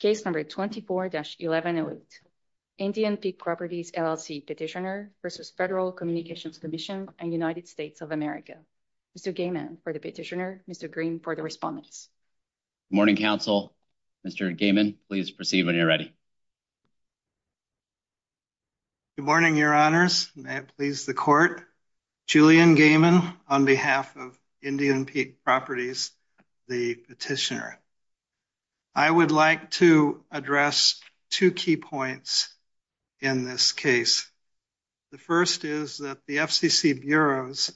Case number 24-1108, Indian Peak Properties LLC petitioner versus Federal Communications Commission and United States of America. Mr. Gaiman for the petitioner, Mr. Green for the respondents. Good morning, counsel. Mr. Gaiman, please proceed when you're ready. Good morning, your honors. May it please the court. Julian Gaiman on behalf of Indian Peak Properties, the petitioner. I would like to address two key points in this case. The first is that the FCC bureaus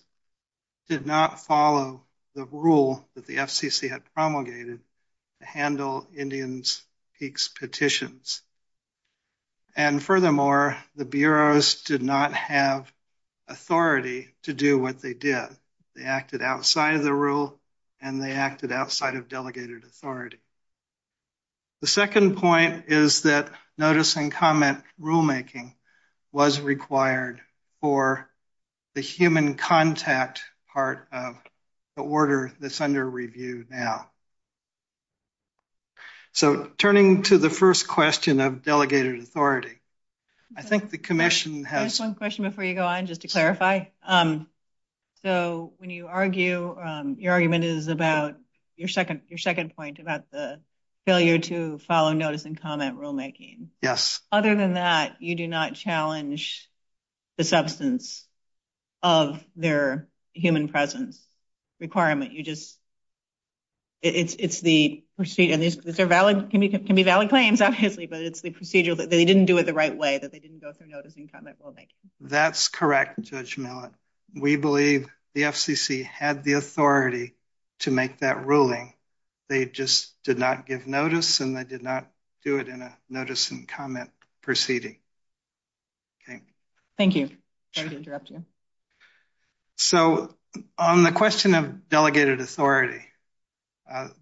did not follow the rule that the FCC had promulgated to handle Indians Peaks petitions. And furthermore, the bureaus did not have authority to do what they did. They acted outside of the rule and they acted outside of delegated authority. The second point is that notice and comment rulemaking was required for the human contact part of the order that's under review now. So turning to the first question of delegated authority, I think the commission has... One question before you go on, just to clarify. So when you argue, your argument is about your second point about the failure to follow notice and comment rulemaking. Yes. Other than that, you do not challenge the substance of their human presence requirement. You just... It's the procedure. These are valid, can be valid claims, obviously, but it's the procedure that they didn't do it the right way, they didn't go through notice and comment rulemaking. That's correct, Judge Millett. We believe the FCC had the authority to make that ruling. They just did not give notice and they did not do it in a notice and comment proceeding. Okay. Thank you. Sorry to interrupt you. So on the question of delegated authority,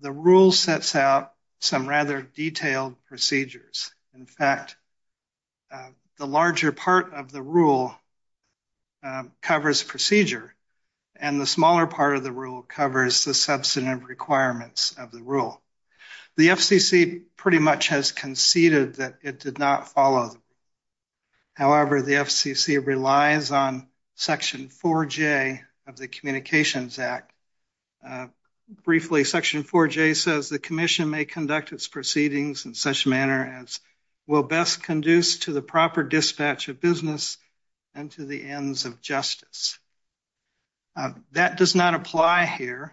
the rule sets out some rather detailed procedures. In fact, the larger part of the rule covers procedure and the smaller part of the rule covers the substantive requirements of the rule. The FCC pretty much has conceded that it did not follow. However, the FCC relies on Section 4J of the Communications Act. Briefly, Section 4J says the commission may conduct its proceedings in such a manner as will best conduce to the proper dispatch of business and to the ends of justice. That does not apply here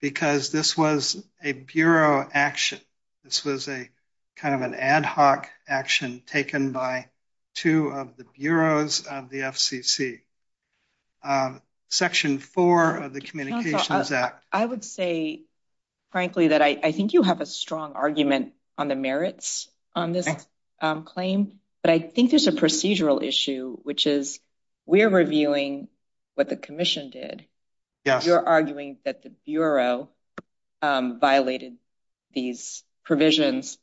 because this was a bureau action. This was a kind of an ad hoc action taken by two of the bureaus of the FCC. Section 4 of the Communications Act. I would say, frankly, that I think you have a strong argument on the merits on this claim, but I think there's a procedural issue, which is we're reviewing what the commission did. You're arguing that the bureau violated these provisions.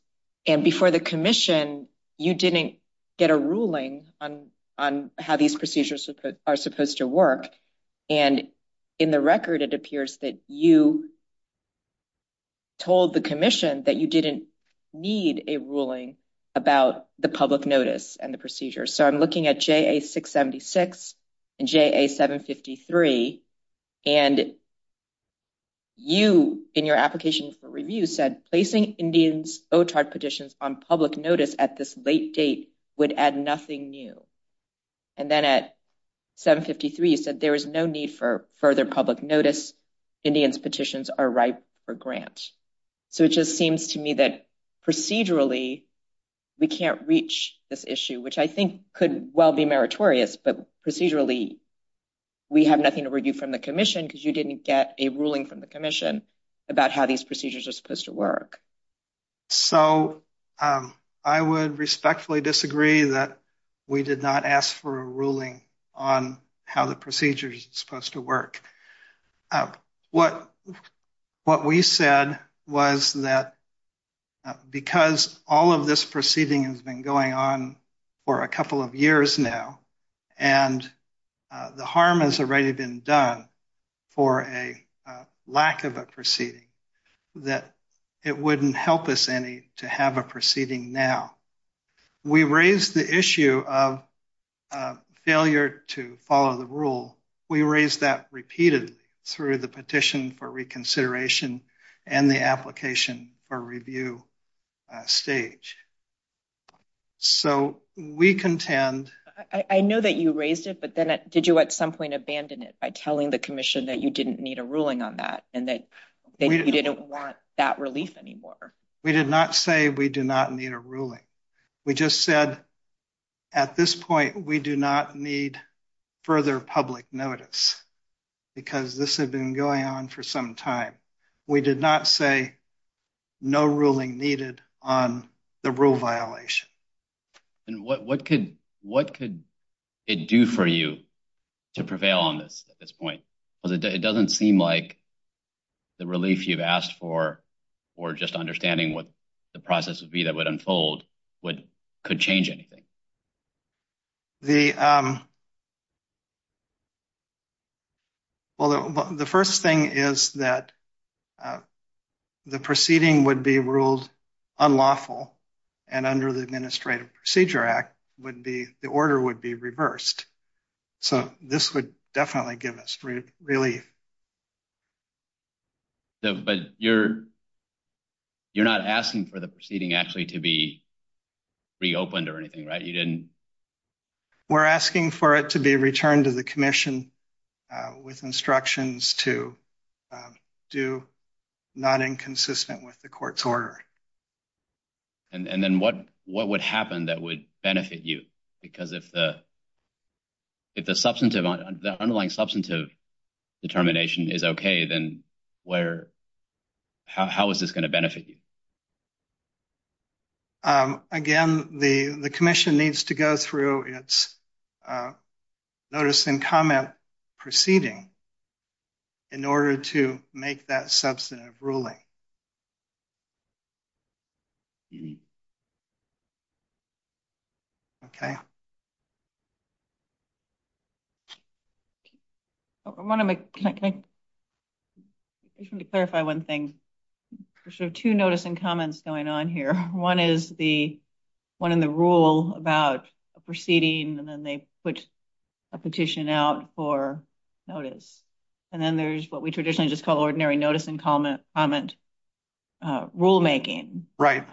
And for the commission, you didn't get a ruling on how these procedures are supposed to work. And in the record, it appears that you told the commission that you didn't need a ruling about the public notice and the procedures. So I'm looking at JA-676 and JA-753. And you, in your application for review, said placing Indians' OTART petitions on public notice at this late date would add nothing new. And then at 753, you said there is no need for further public notice. Indians' petitions are ripe for grant. So it just seems to me that procedurally, we can't reach this issue, which I think could well be meritorious. But procedurally, we have nothing to review from the commission because you didn't get a ruling from the commission about how these procedures are supposed to work. So I would respectfully disagree that we did not ask for a ruling on how the procedures are supposed to work. What we said was that because all of this proceeding has been going on for a couple of years now, and the harm has already been done for a lack of a proceeding, that it wouldn't help us any to have a proceeding now. We raised the issue of failure to follow the rule. We raised that repeatedly through the petition for reconsideration and the application for review stage. So we contend... I know that you raised it, but then did you at some point abandon it by telling the commission that you didn't need a ruling on that and that you didn't want that relief anymore? We did not say we do not need a ruling. We just said at this point, we do not need further public notice because this had been going on for some time. We did not say no ruling needed on the rule violation. And what could it do for you to prevail on this at this point? Because it doesn't seem like the relief you've asked for, or just understanding what the process would be that would unfold, could change anything. Well, the first thing is that the proceeding would be ruled unlawful, and under the Administrative Procedure Act, the order would be reversed. So this would definitely give us relief. But you're not asking for the proceeding actually to be reopened or anything, right? You didn't... We're asking for it to be returned to the commission with instructions to do not inconsistent with the court's order. And then what would happen that would benefit you? Because if the underlying substantive determination is okay, then how is this going to benefit you? So, again, the commission needs to go through its notice and comment proceeding in order to make that substantive ruling. Okay. I want to make... I just want to clarify one thing. There's two notice and comments going on here. One is the one in the rule about a proceeding, and then they put a petition out for notice. And then there's what we traditionally just call ordinary notice and comment. Rulemaking. Right.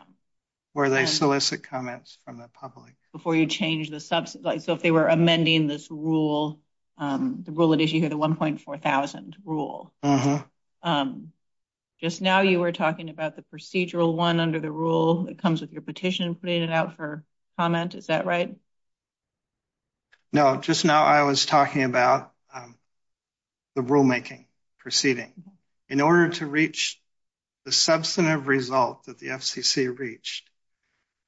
Where they solicit comments from the public. Before you change the substantive... So if they were amending this rule, the rule it is, you hear the 1.4 thousand rule. Just now you were talking about the procedural one under the rule that comes with your petition, putting it out for comment. Is that right? No, just now I was talking about the rulemaking proceeding. In order to reach the substantive result that the FCC reached,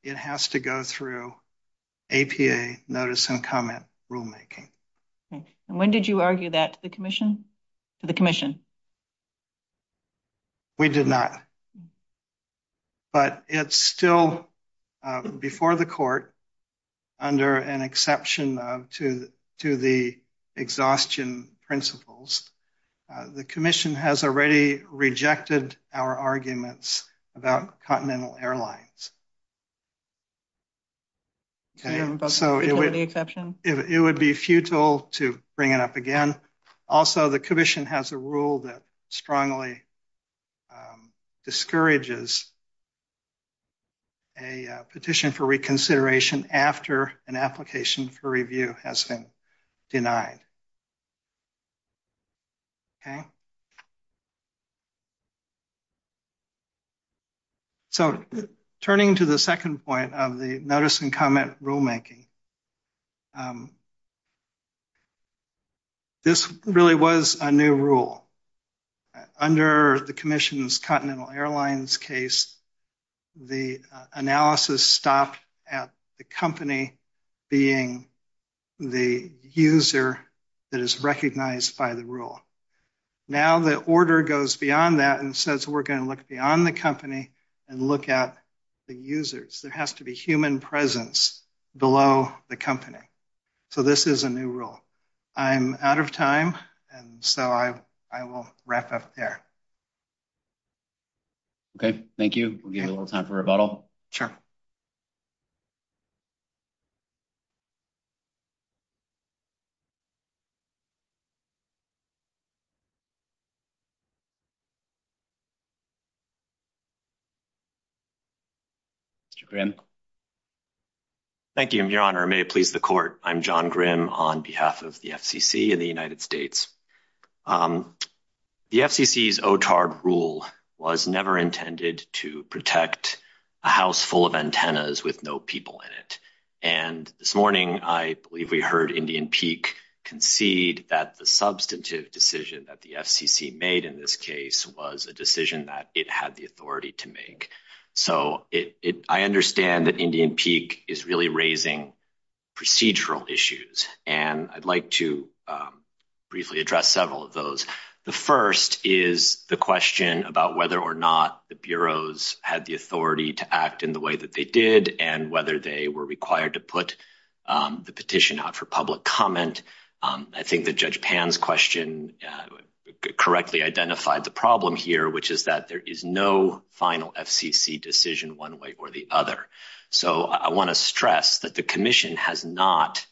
it has to go through APA notice and comment rulemaking. And when did you argue that to the commission? We did not. But it's still before the court under an exception to the exhaustion principles. The commission has already rejected our arguments about Continental Airlines. So it would be futile to bring it up again. Also, the commission has a rule that strongly discourages a petition for reconsideration after an application for review has been denied. Okay. So turning to the second point of the notice and comment rulemaking. This really was a new rule. Under the commission's Continental Airlines case, the analysis stopped at the company being the user that is recognized by the rule. Now the order goes beyond that and says we're going to look beyond the company and look at the users. There has to be human presence below the company. So this is a new rule. I'm out of time, and so I will wrap up there. Okay. Thank you. We'll give you a little time for rebuttal. Mr. Grimm. Thank you, Your Honor. May it please the court. I'm John Grimm on behalf of the FCC in the United States. The FCC's OTARD rule was never intended to protect a house full of antennas with no people in it. And this morning I believe we heard Indian Peak concede that the substantive decision that the FCC made in this case was a decision that it had the authority to make. So I understand that Indian Peak is really raising procedural issues, and I'd like to briefly address several of those. The first is the question about whether or not the bureaus had the authority to act in the way that they did and whether they were required to put the petition out for public comment. I think that Judge Pan's question correctly identified the problem here, which is that there is no final FCC decision one way or the other. So I want to stress that the Commission has not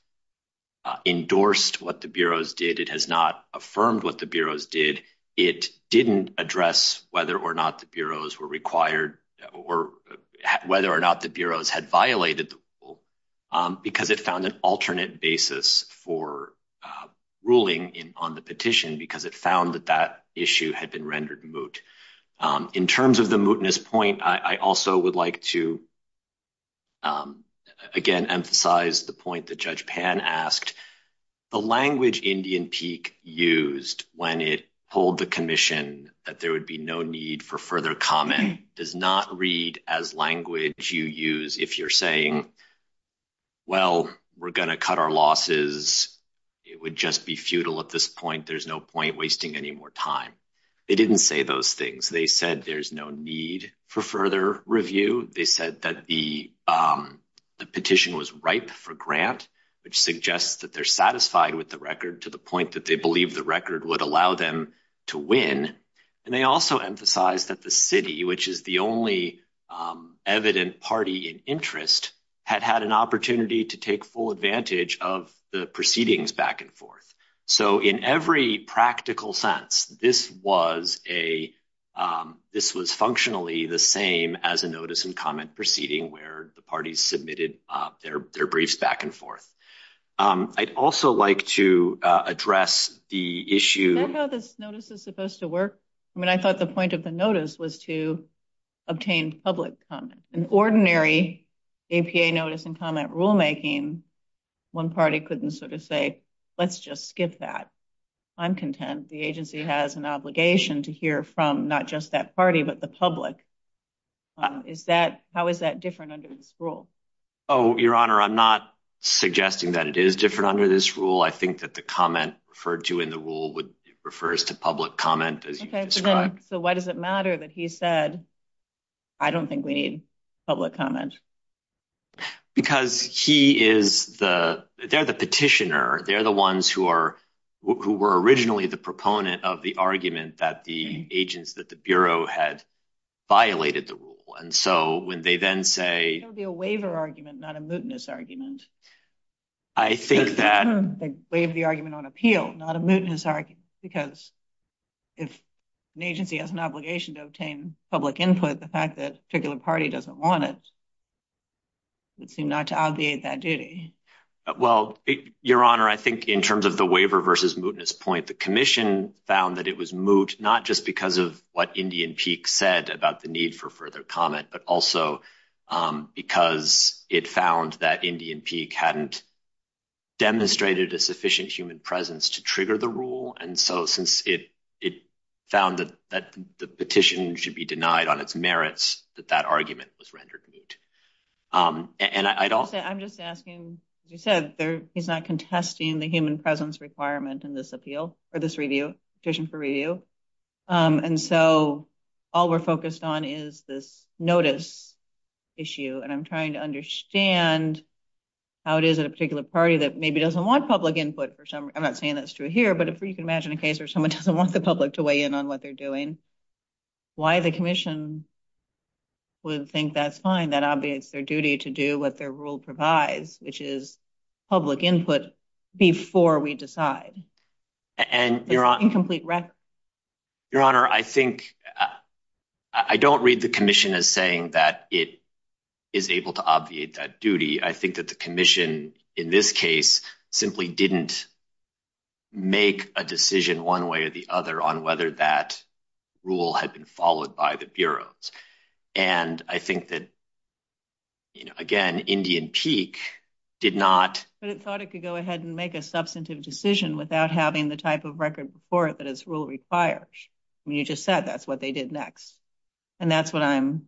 endorsed what the bureaus did. It has not affirmed what the bureaus did. It didn't address whether or not the bureaus were required or whether or not the bureaus had violated the rule because it found an alternate basis for ruling on the petition because it found that that issue had been rendered moot. In terms of the mootness point, I also would like to again emphasize the point that Judge Pan asked. The language Indian Peak used when it pulled the Commission that there would be no need for further comment does not read as language you use if you're saying, well, we're going to cut our losses. It would just be futile at this point. There's no wasting any more time. They didn't say those things. They said there's no need for further review. They said that the petition was ripe for grant, which suggests that they're satisfied with the record to the point that they believe the record would allow them to win. And they also emphasized that the city, which is the only evident party in interest, had had an opportunity to take full advantage of the proceedings back and forth. So in every practical sense, this was functionally the same as a notice and comment proceeding where the parties submitted their briefs back and forth. I'd also like to address the issue... I don't know how this notice is supposed to work. I mean, I thought the point of the notice was to obtain public comment. An ordinary APA notice and comment rulemaking, one party couldn't sort of say, let's just skip that. I'm content. The agency has an obligation to hear from not just that party, but the public. How is that different under this rule? Oh, Your Honor, I'm not suggesting that it is different under this rule. I think that the comment referred to in the rule refers to public comment as you described. So why does it matter that he said, I don't think we need public comment? Because he is the... they're the petitioner. They're the ones who were originally the proponent of the argument that the agents, that the Bureau, had violated the rule. And so when they then say... That would be a waiver argument, not a mootness argument. I think that... They waive the argument on appeal, not a mootness argument, because if an agency has an obligation to obtain public input, the fact that a particular party doesn't want it, it would seem not to obviate that duty. Well, Your Honor, I think in terms of the waiver versus mootness point, the commission found that it was moot, not just because of what Indian Peak said about the need for further comment, but also because it found that Indian Peak hadn't demonstrated a sufficient human presence to trigger the rule. And so since it found that the petition should be denied on its merits, that that argument was rendered moot. And I'd also... I'm just asking, as you said, he's not contesting the human presence requirement in this appeal, or this review, petition for review. And so all we're focused on is this notice issue. And I'm trying to understand how it is that a particular party that maybe doesn't want public input for some... I'm not saying that's true here, but if you can imagine a case where someone doesn't want the public to weigh in on what they're doing, why the commission would think that's fine, that obviates their duty to do what their rule provides, which is public input before we decide? There's an incomplete record. Your Honor, I think... I don't read the commission as saying that it is able to obviate that duty. I think that the commission in this case simply didn't make a decision one way or the other on whether that rule had been followed by the Bureau. And I think that, again, Indian Peak did not... But it thought it could go ahead and make a substantive decision without having the type of record before it that its rule requires. I mean, you just said that's what they did next. And that's what I'm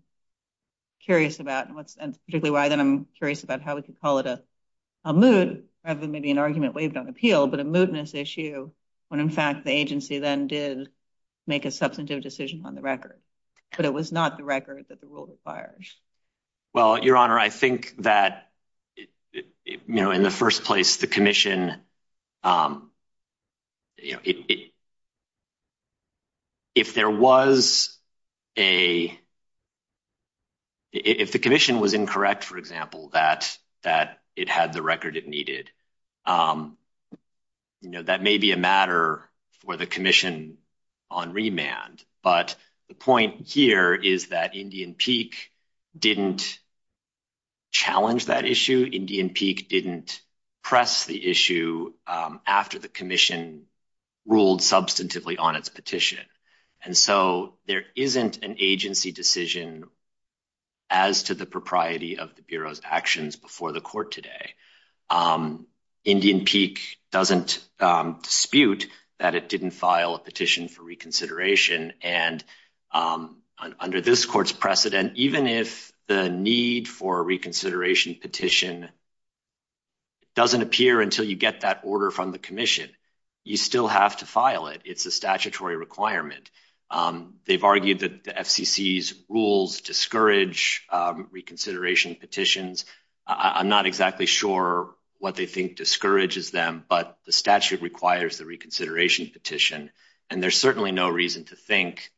curious about, and particularly I'm curious about how we could call it a moot, rather than maybe an argument waived on appeal, but a mootness issue when, in fact, the agency then did make a substantive decision on the record, but it was not the record that the rule requires. Well, Your Honor, I think that, you know, in the first place, the commission... If there was a... If the commission was incorrect, for example, that it had the record it needed, you know, that may be a matter for the commission on remand. But the point here is that Indian Peak didn't challenge that issue. Indian Peak didn't press the issue. And so, you know, after the commission ruled substantively on its petition. And so, there isn't an agency decision as to the propriety of the Bureau's actions before the court today. Indian Peak doesn't dispute that it didn't file a petition for reconsideration. And under this court's precedent, even if the need for a reconsideration petition doesn't appear until you get that order from the commission, you still have to file it. It's a statutory requirement. They've argued that the FCC's rules discourage reconsideration petitions. I'm not exactly sure what they think discourages them, but the statute requires the reconsideration petition. And there's certainly no reason to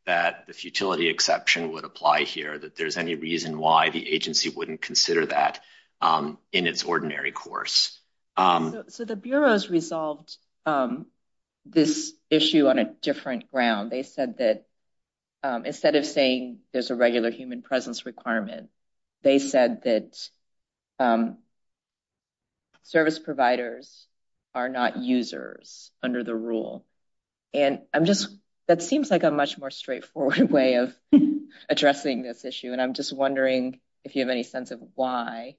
that the futility exception would apply here, that there's any reason why the agency wouldn't consider that in its ordinary course. So the Bureau's resolved this issue on a different ground. They said that instead of saying there's a regular human presence requirement, they said that service providers are not users under the rule. And I'm just... That seems like a much more straightforward way of addressing this issue. And I'm just wondering if you have any sense of why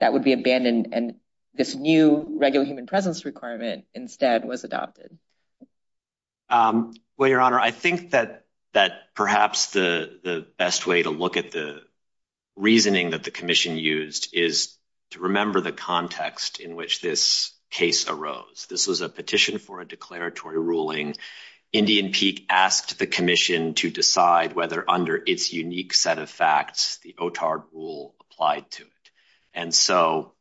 that would be abandoned and this new regular human presence requirement instead was adopted. Well, Your Honor, I think that perhaps the best way to look at the reasoning that the commission used is to remember the context in which this case arose. This was a petition for a declaratory ruling. Indian Peak asked the commission to decide whether, under its unique set of facts, the OTAR rule applied to it. And so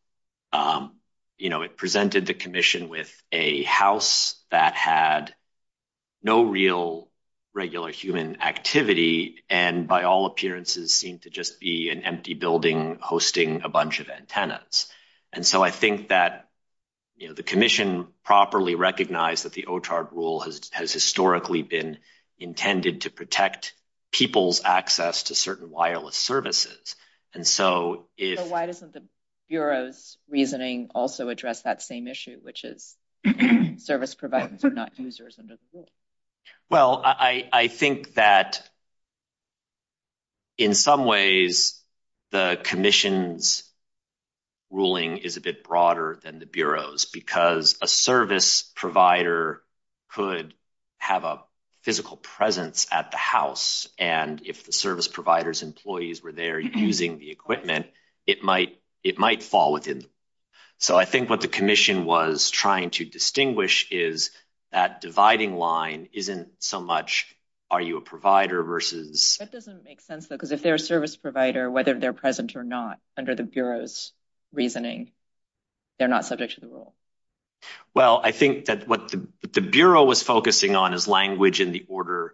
it presented the commission with a house that had no real regular human activity and, by all appearances, seemed to just be an empty building hosting a bunch of antennas. And so I think that the commission properly recognized that the OTAR rule has historically been intended to protect people's access to certain wireless services. So why doesn't the Bureau's reasoning also address that same issue, which is service providers are not users under the rule? Well, I think that in some ways the commission's ruling is a bit broader than the Bureau's because a service provider could have a physical presence at the house. And if the service provider's employees were there using the equipment, it might fall within. So I think what the commission was trying to distinguish is that dividing line isn't so much are you a provider versus... That doesn't make sense, though, because if they're a service provider, whether they're present or not under the Bureau's reasoning, they're not subject to the rule. Well, I think that what the Bureau was focusing on is language in the order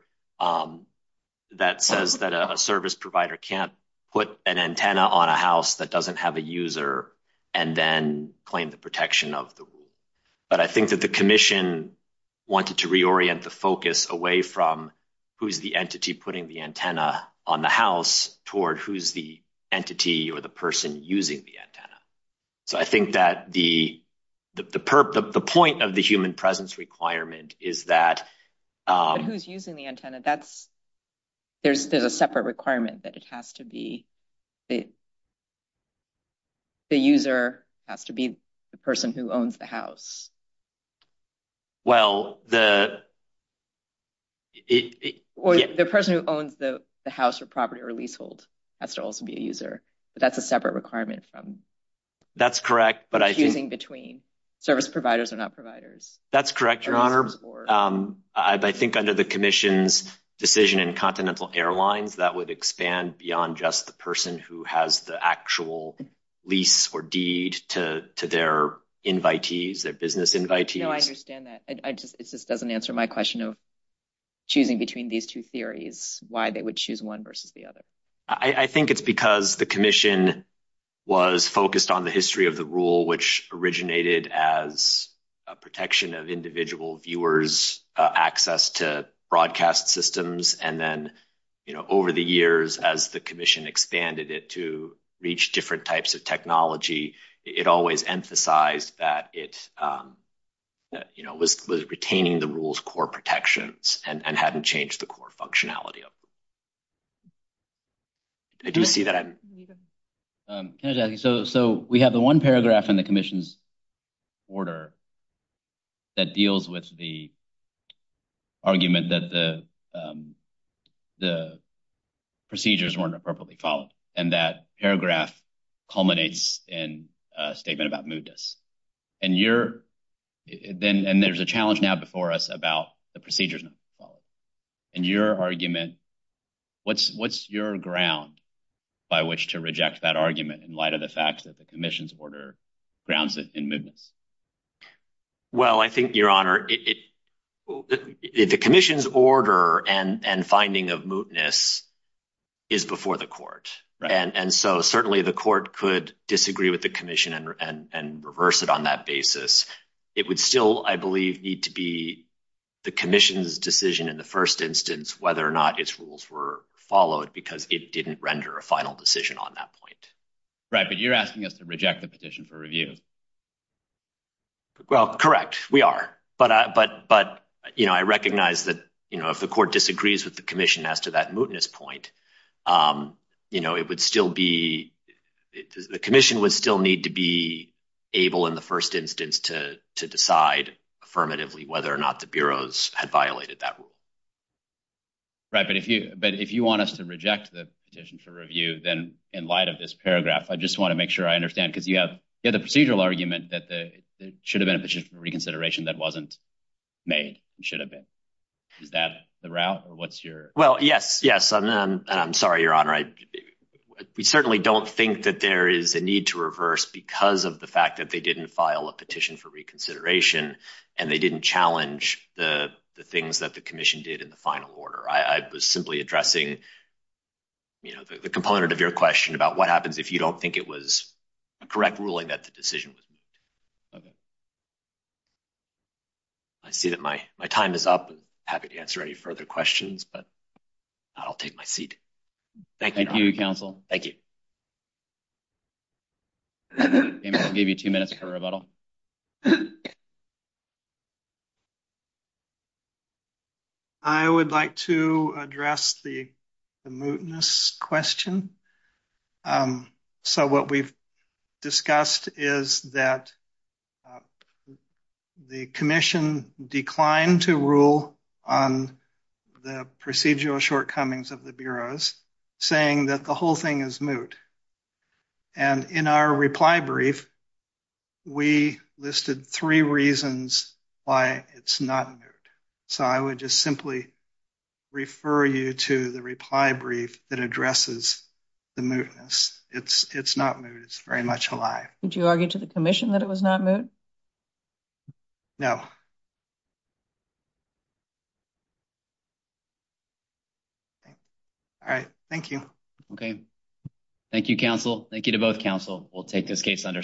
that says that a service provider can't put an antenna on a house that doesn't have a user and then claim the protection of the rule. But I think that the commission wanted to reorient the focus away from who's the entity putting the antenna on the house toward who's the entity or the person using the antenna. So I think that the point of the human presence requirement is that... But who's using the antenna? There's a separate requirement that it has to be the user has to be the person who owns the house. Well, the... Or the person who owns the house or property or leasehold has to also be a user. But that's a separate requirement from... That's correct, but I think... Choosing between service providers or not providers. That's correct, Your Honor. I think under the commission's decision in Continental Airlines, that would expand beyond just the person who has the actual lease or deed to their invitees, their business invitees. No, I understand that. It just doesn't answer my question of choosing between these two theories, why they would choose one versus the other. I think it's because the commission was focused on the history of the rule, which originated as a protection of individual viewers' access to broadcast systems. And then over the years, as the commission expanded it to reach different types of technology, it always emphasized that it was retaining the rule's core protections and hadn't changed the core functionality of them. I do see that I'm... Can I just add, so we have the one paragraph in the commission's order that deals with the argument that the procedures weren't appropriately followed. And that paragraph culminates in a statement about moodness. And you're... And there's a challenge now before us about the procedures not being followed. In your argument, what's your ground by which to reject that argument in light of the fact that the commission's order grounds it in moodness? Well, I think, Your Honor, the commission's order and finding of moodness is before the court. And so certainly the court could disagree with the commission and reverse it on that basis. It would still, I believe, need to be the commission's decision in the first instance whether or not its rules were followed because it didn't render a final decision on that point. Right. But you're asking us to reject the petition for review. Well, correct. We are. But I recognize that if the court disagrees with the commission as to that moodness point, it would still be... The commission would still need to be able in the first instance to decide affirmatively whether or not the bureaus had violated that rule. Right. But if you want us to reject the petition for review, then in light of this paragraph, I just want to make sure I understand. Because you have the procedural argument that there should have been a petition for reconsideration that wasn't made. It should have been. Is that the route? Or what's your... Well, yes. Yes. And I'm sorry, Your Honor. We certainly don't think that there is a need to reverse because of the fact that they didn't file a petition for reconsideration and they didn't challenge the things that the commission did in the final order. I was simply addressing the component of your question about what happens if you don't think it was a correct ruling that the decision was made. Okay. I see that my time is up. Happy to answer any further questions, but I'll take my seat. Thank you. Thank you, counsel. Thank you. I'll give you two minutes for rebuttal. I would like to address the moodness question. So what we've discussed is that the commission declined to rule on the procedural shortcomings of the bureaus saying that the whole thing is moot. And in our reply brief, we listed three reasons why it's not moot. So I would just simply refer you to the reply brief that addresses the moodness. It's not moot. It's very much alive. Would you argue to the commission that it was not moot? No. All right. Thank you. Okay. Thank you, counsel. Thank you to both counsel. We'll take this case under submission.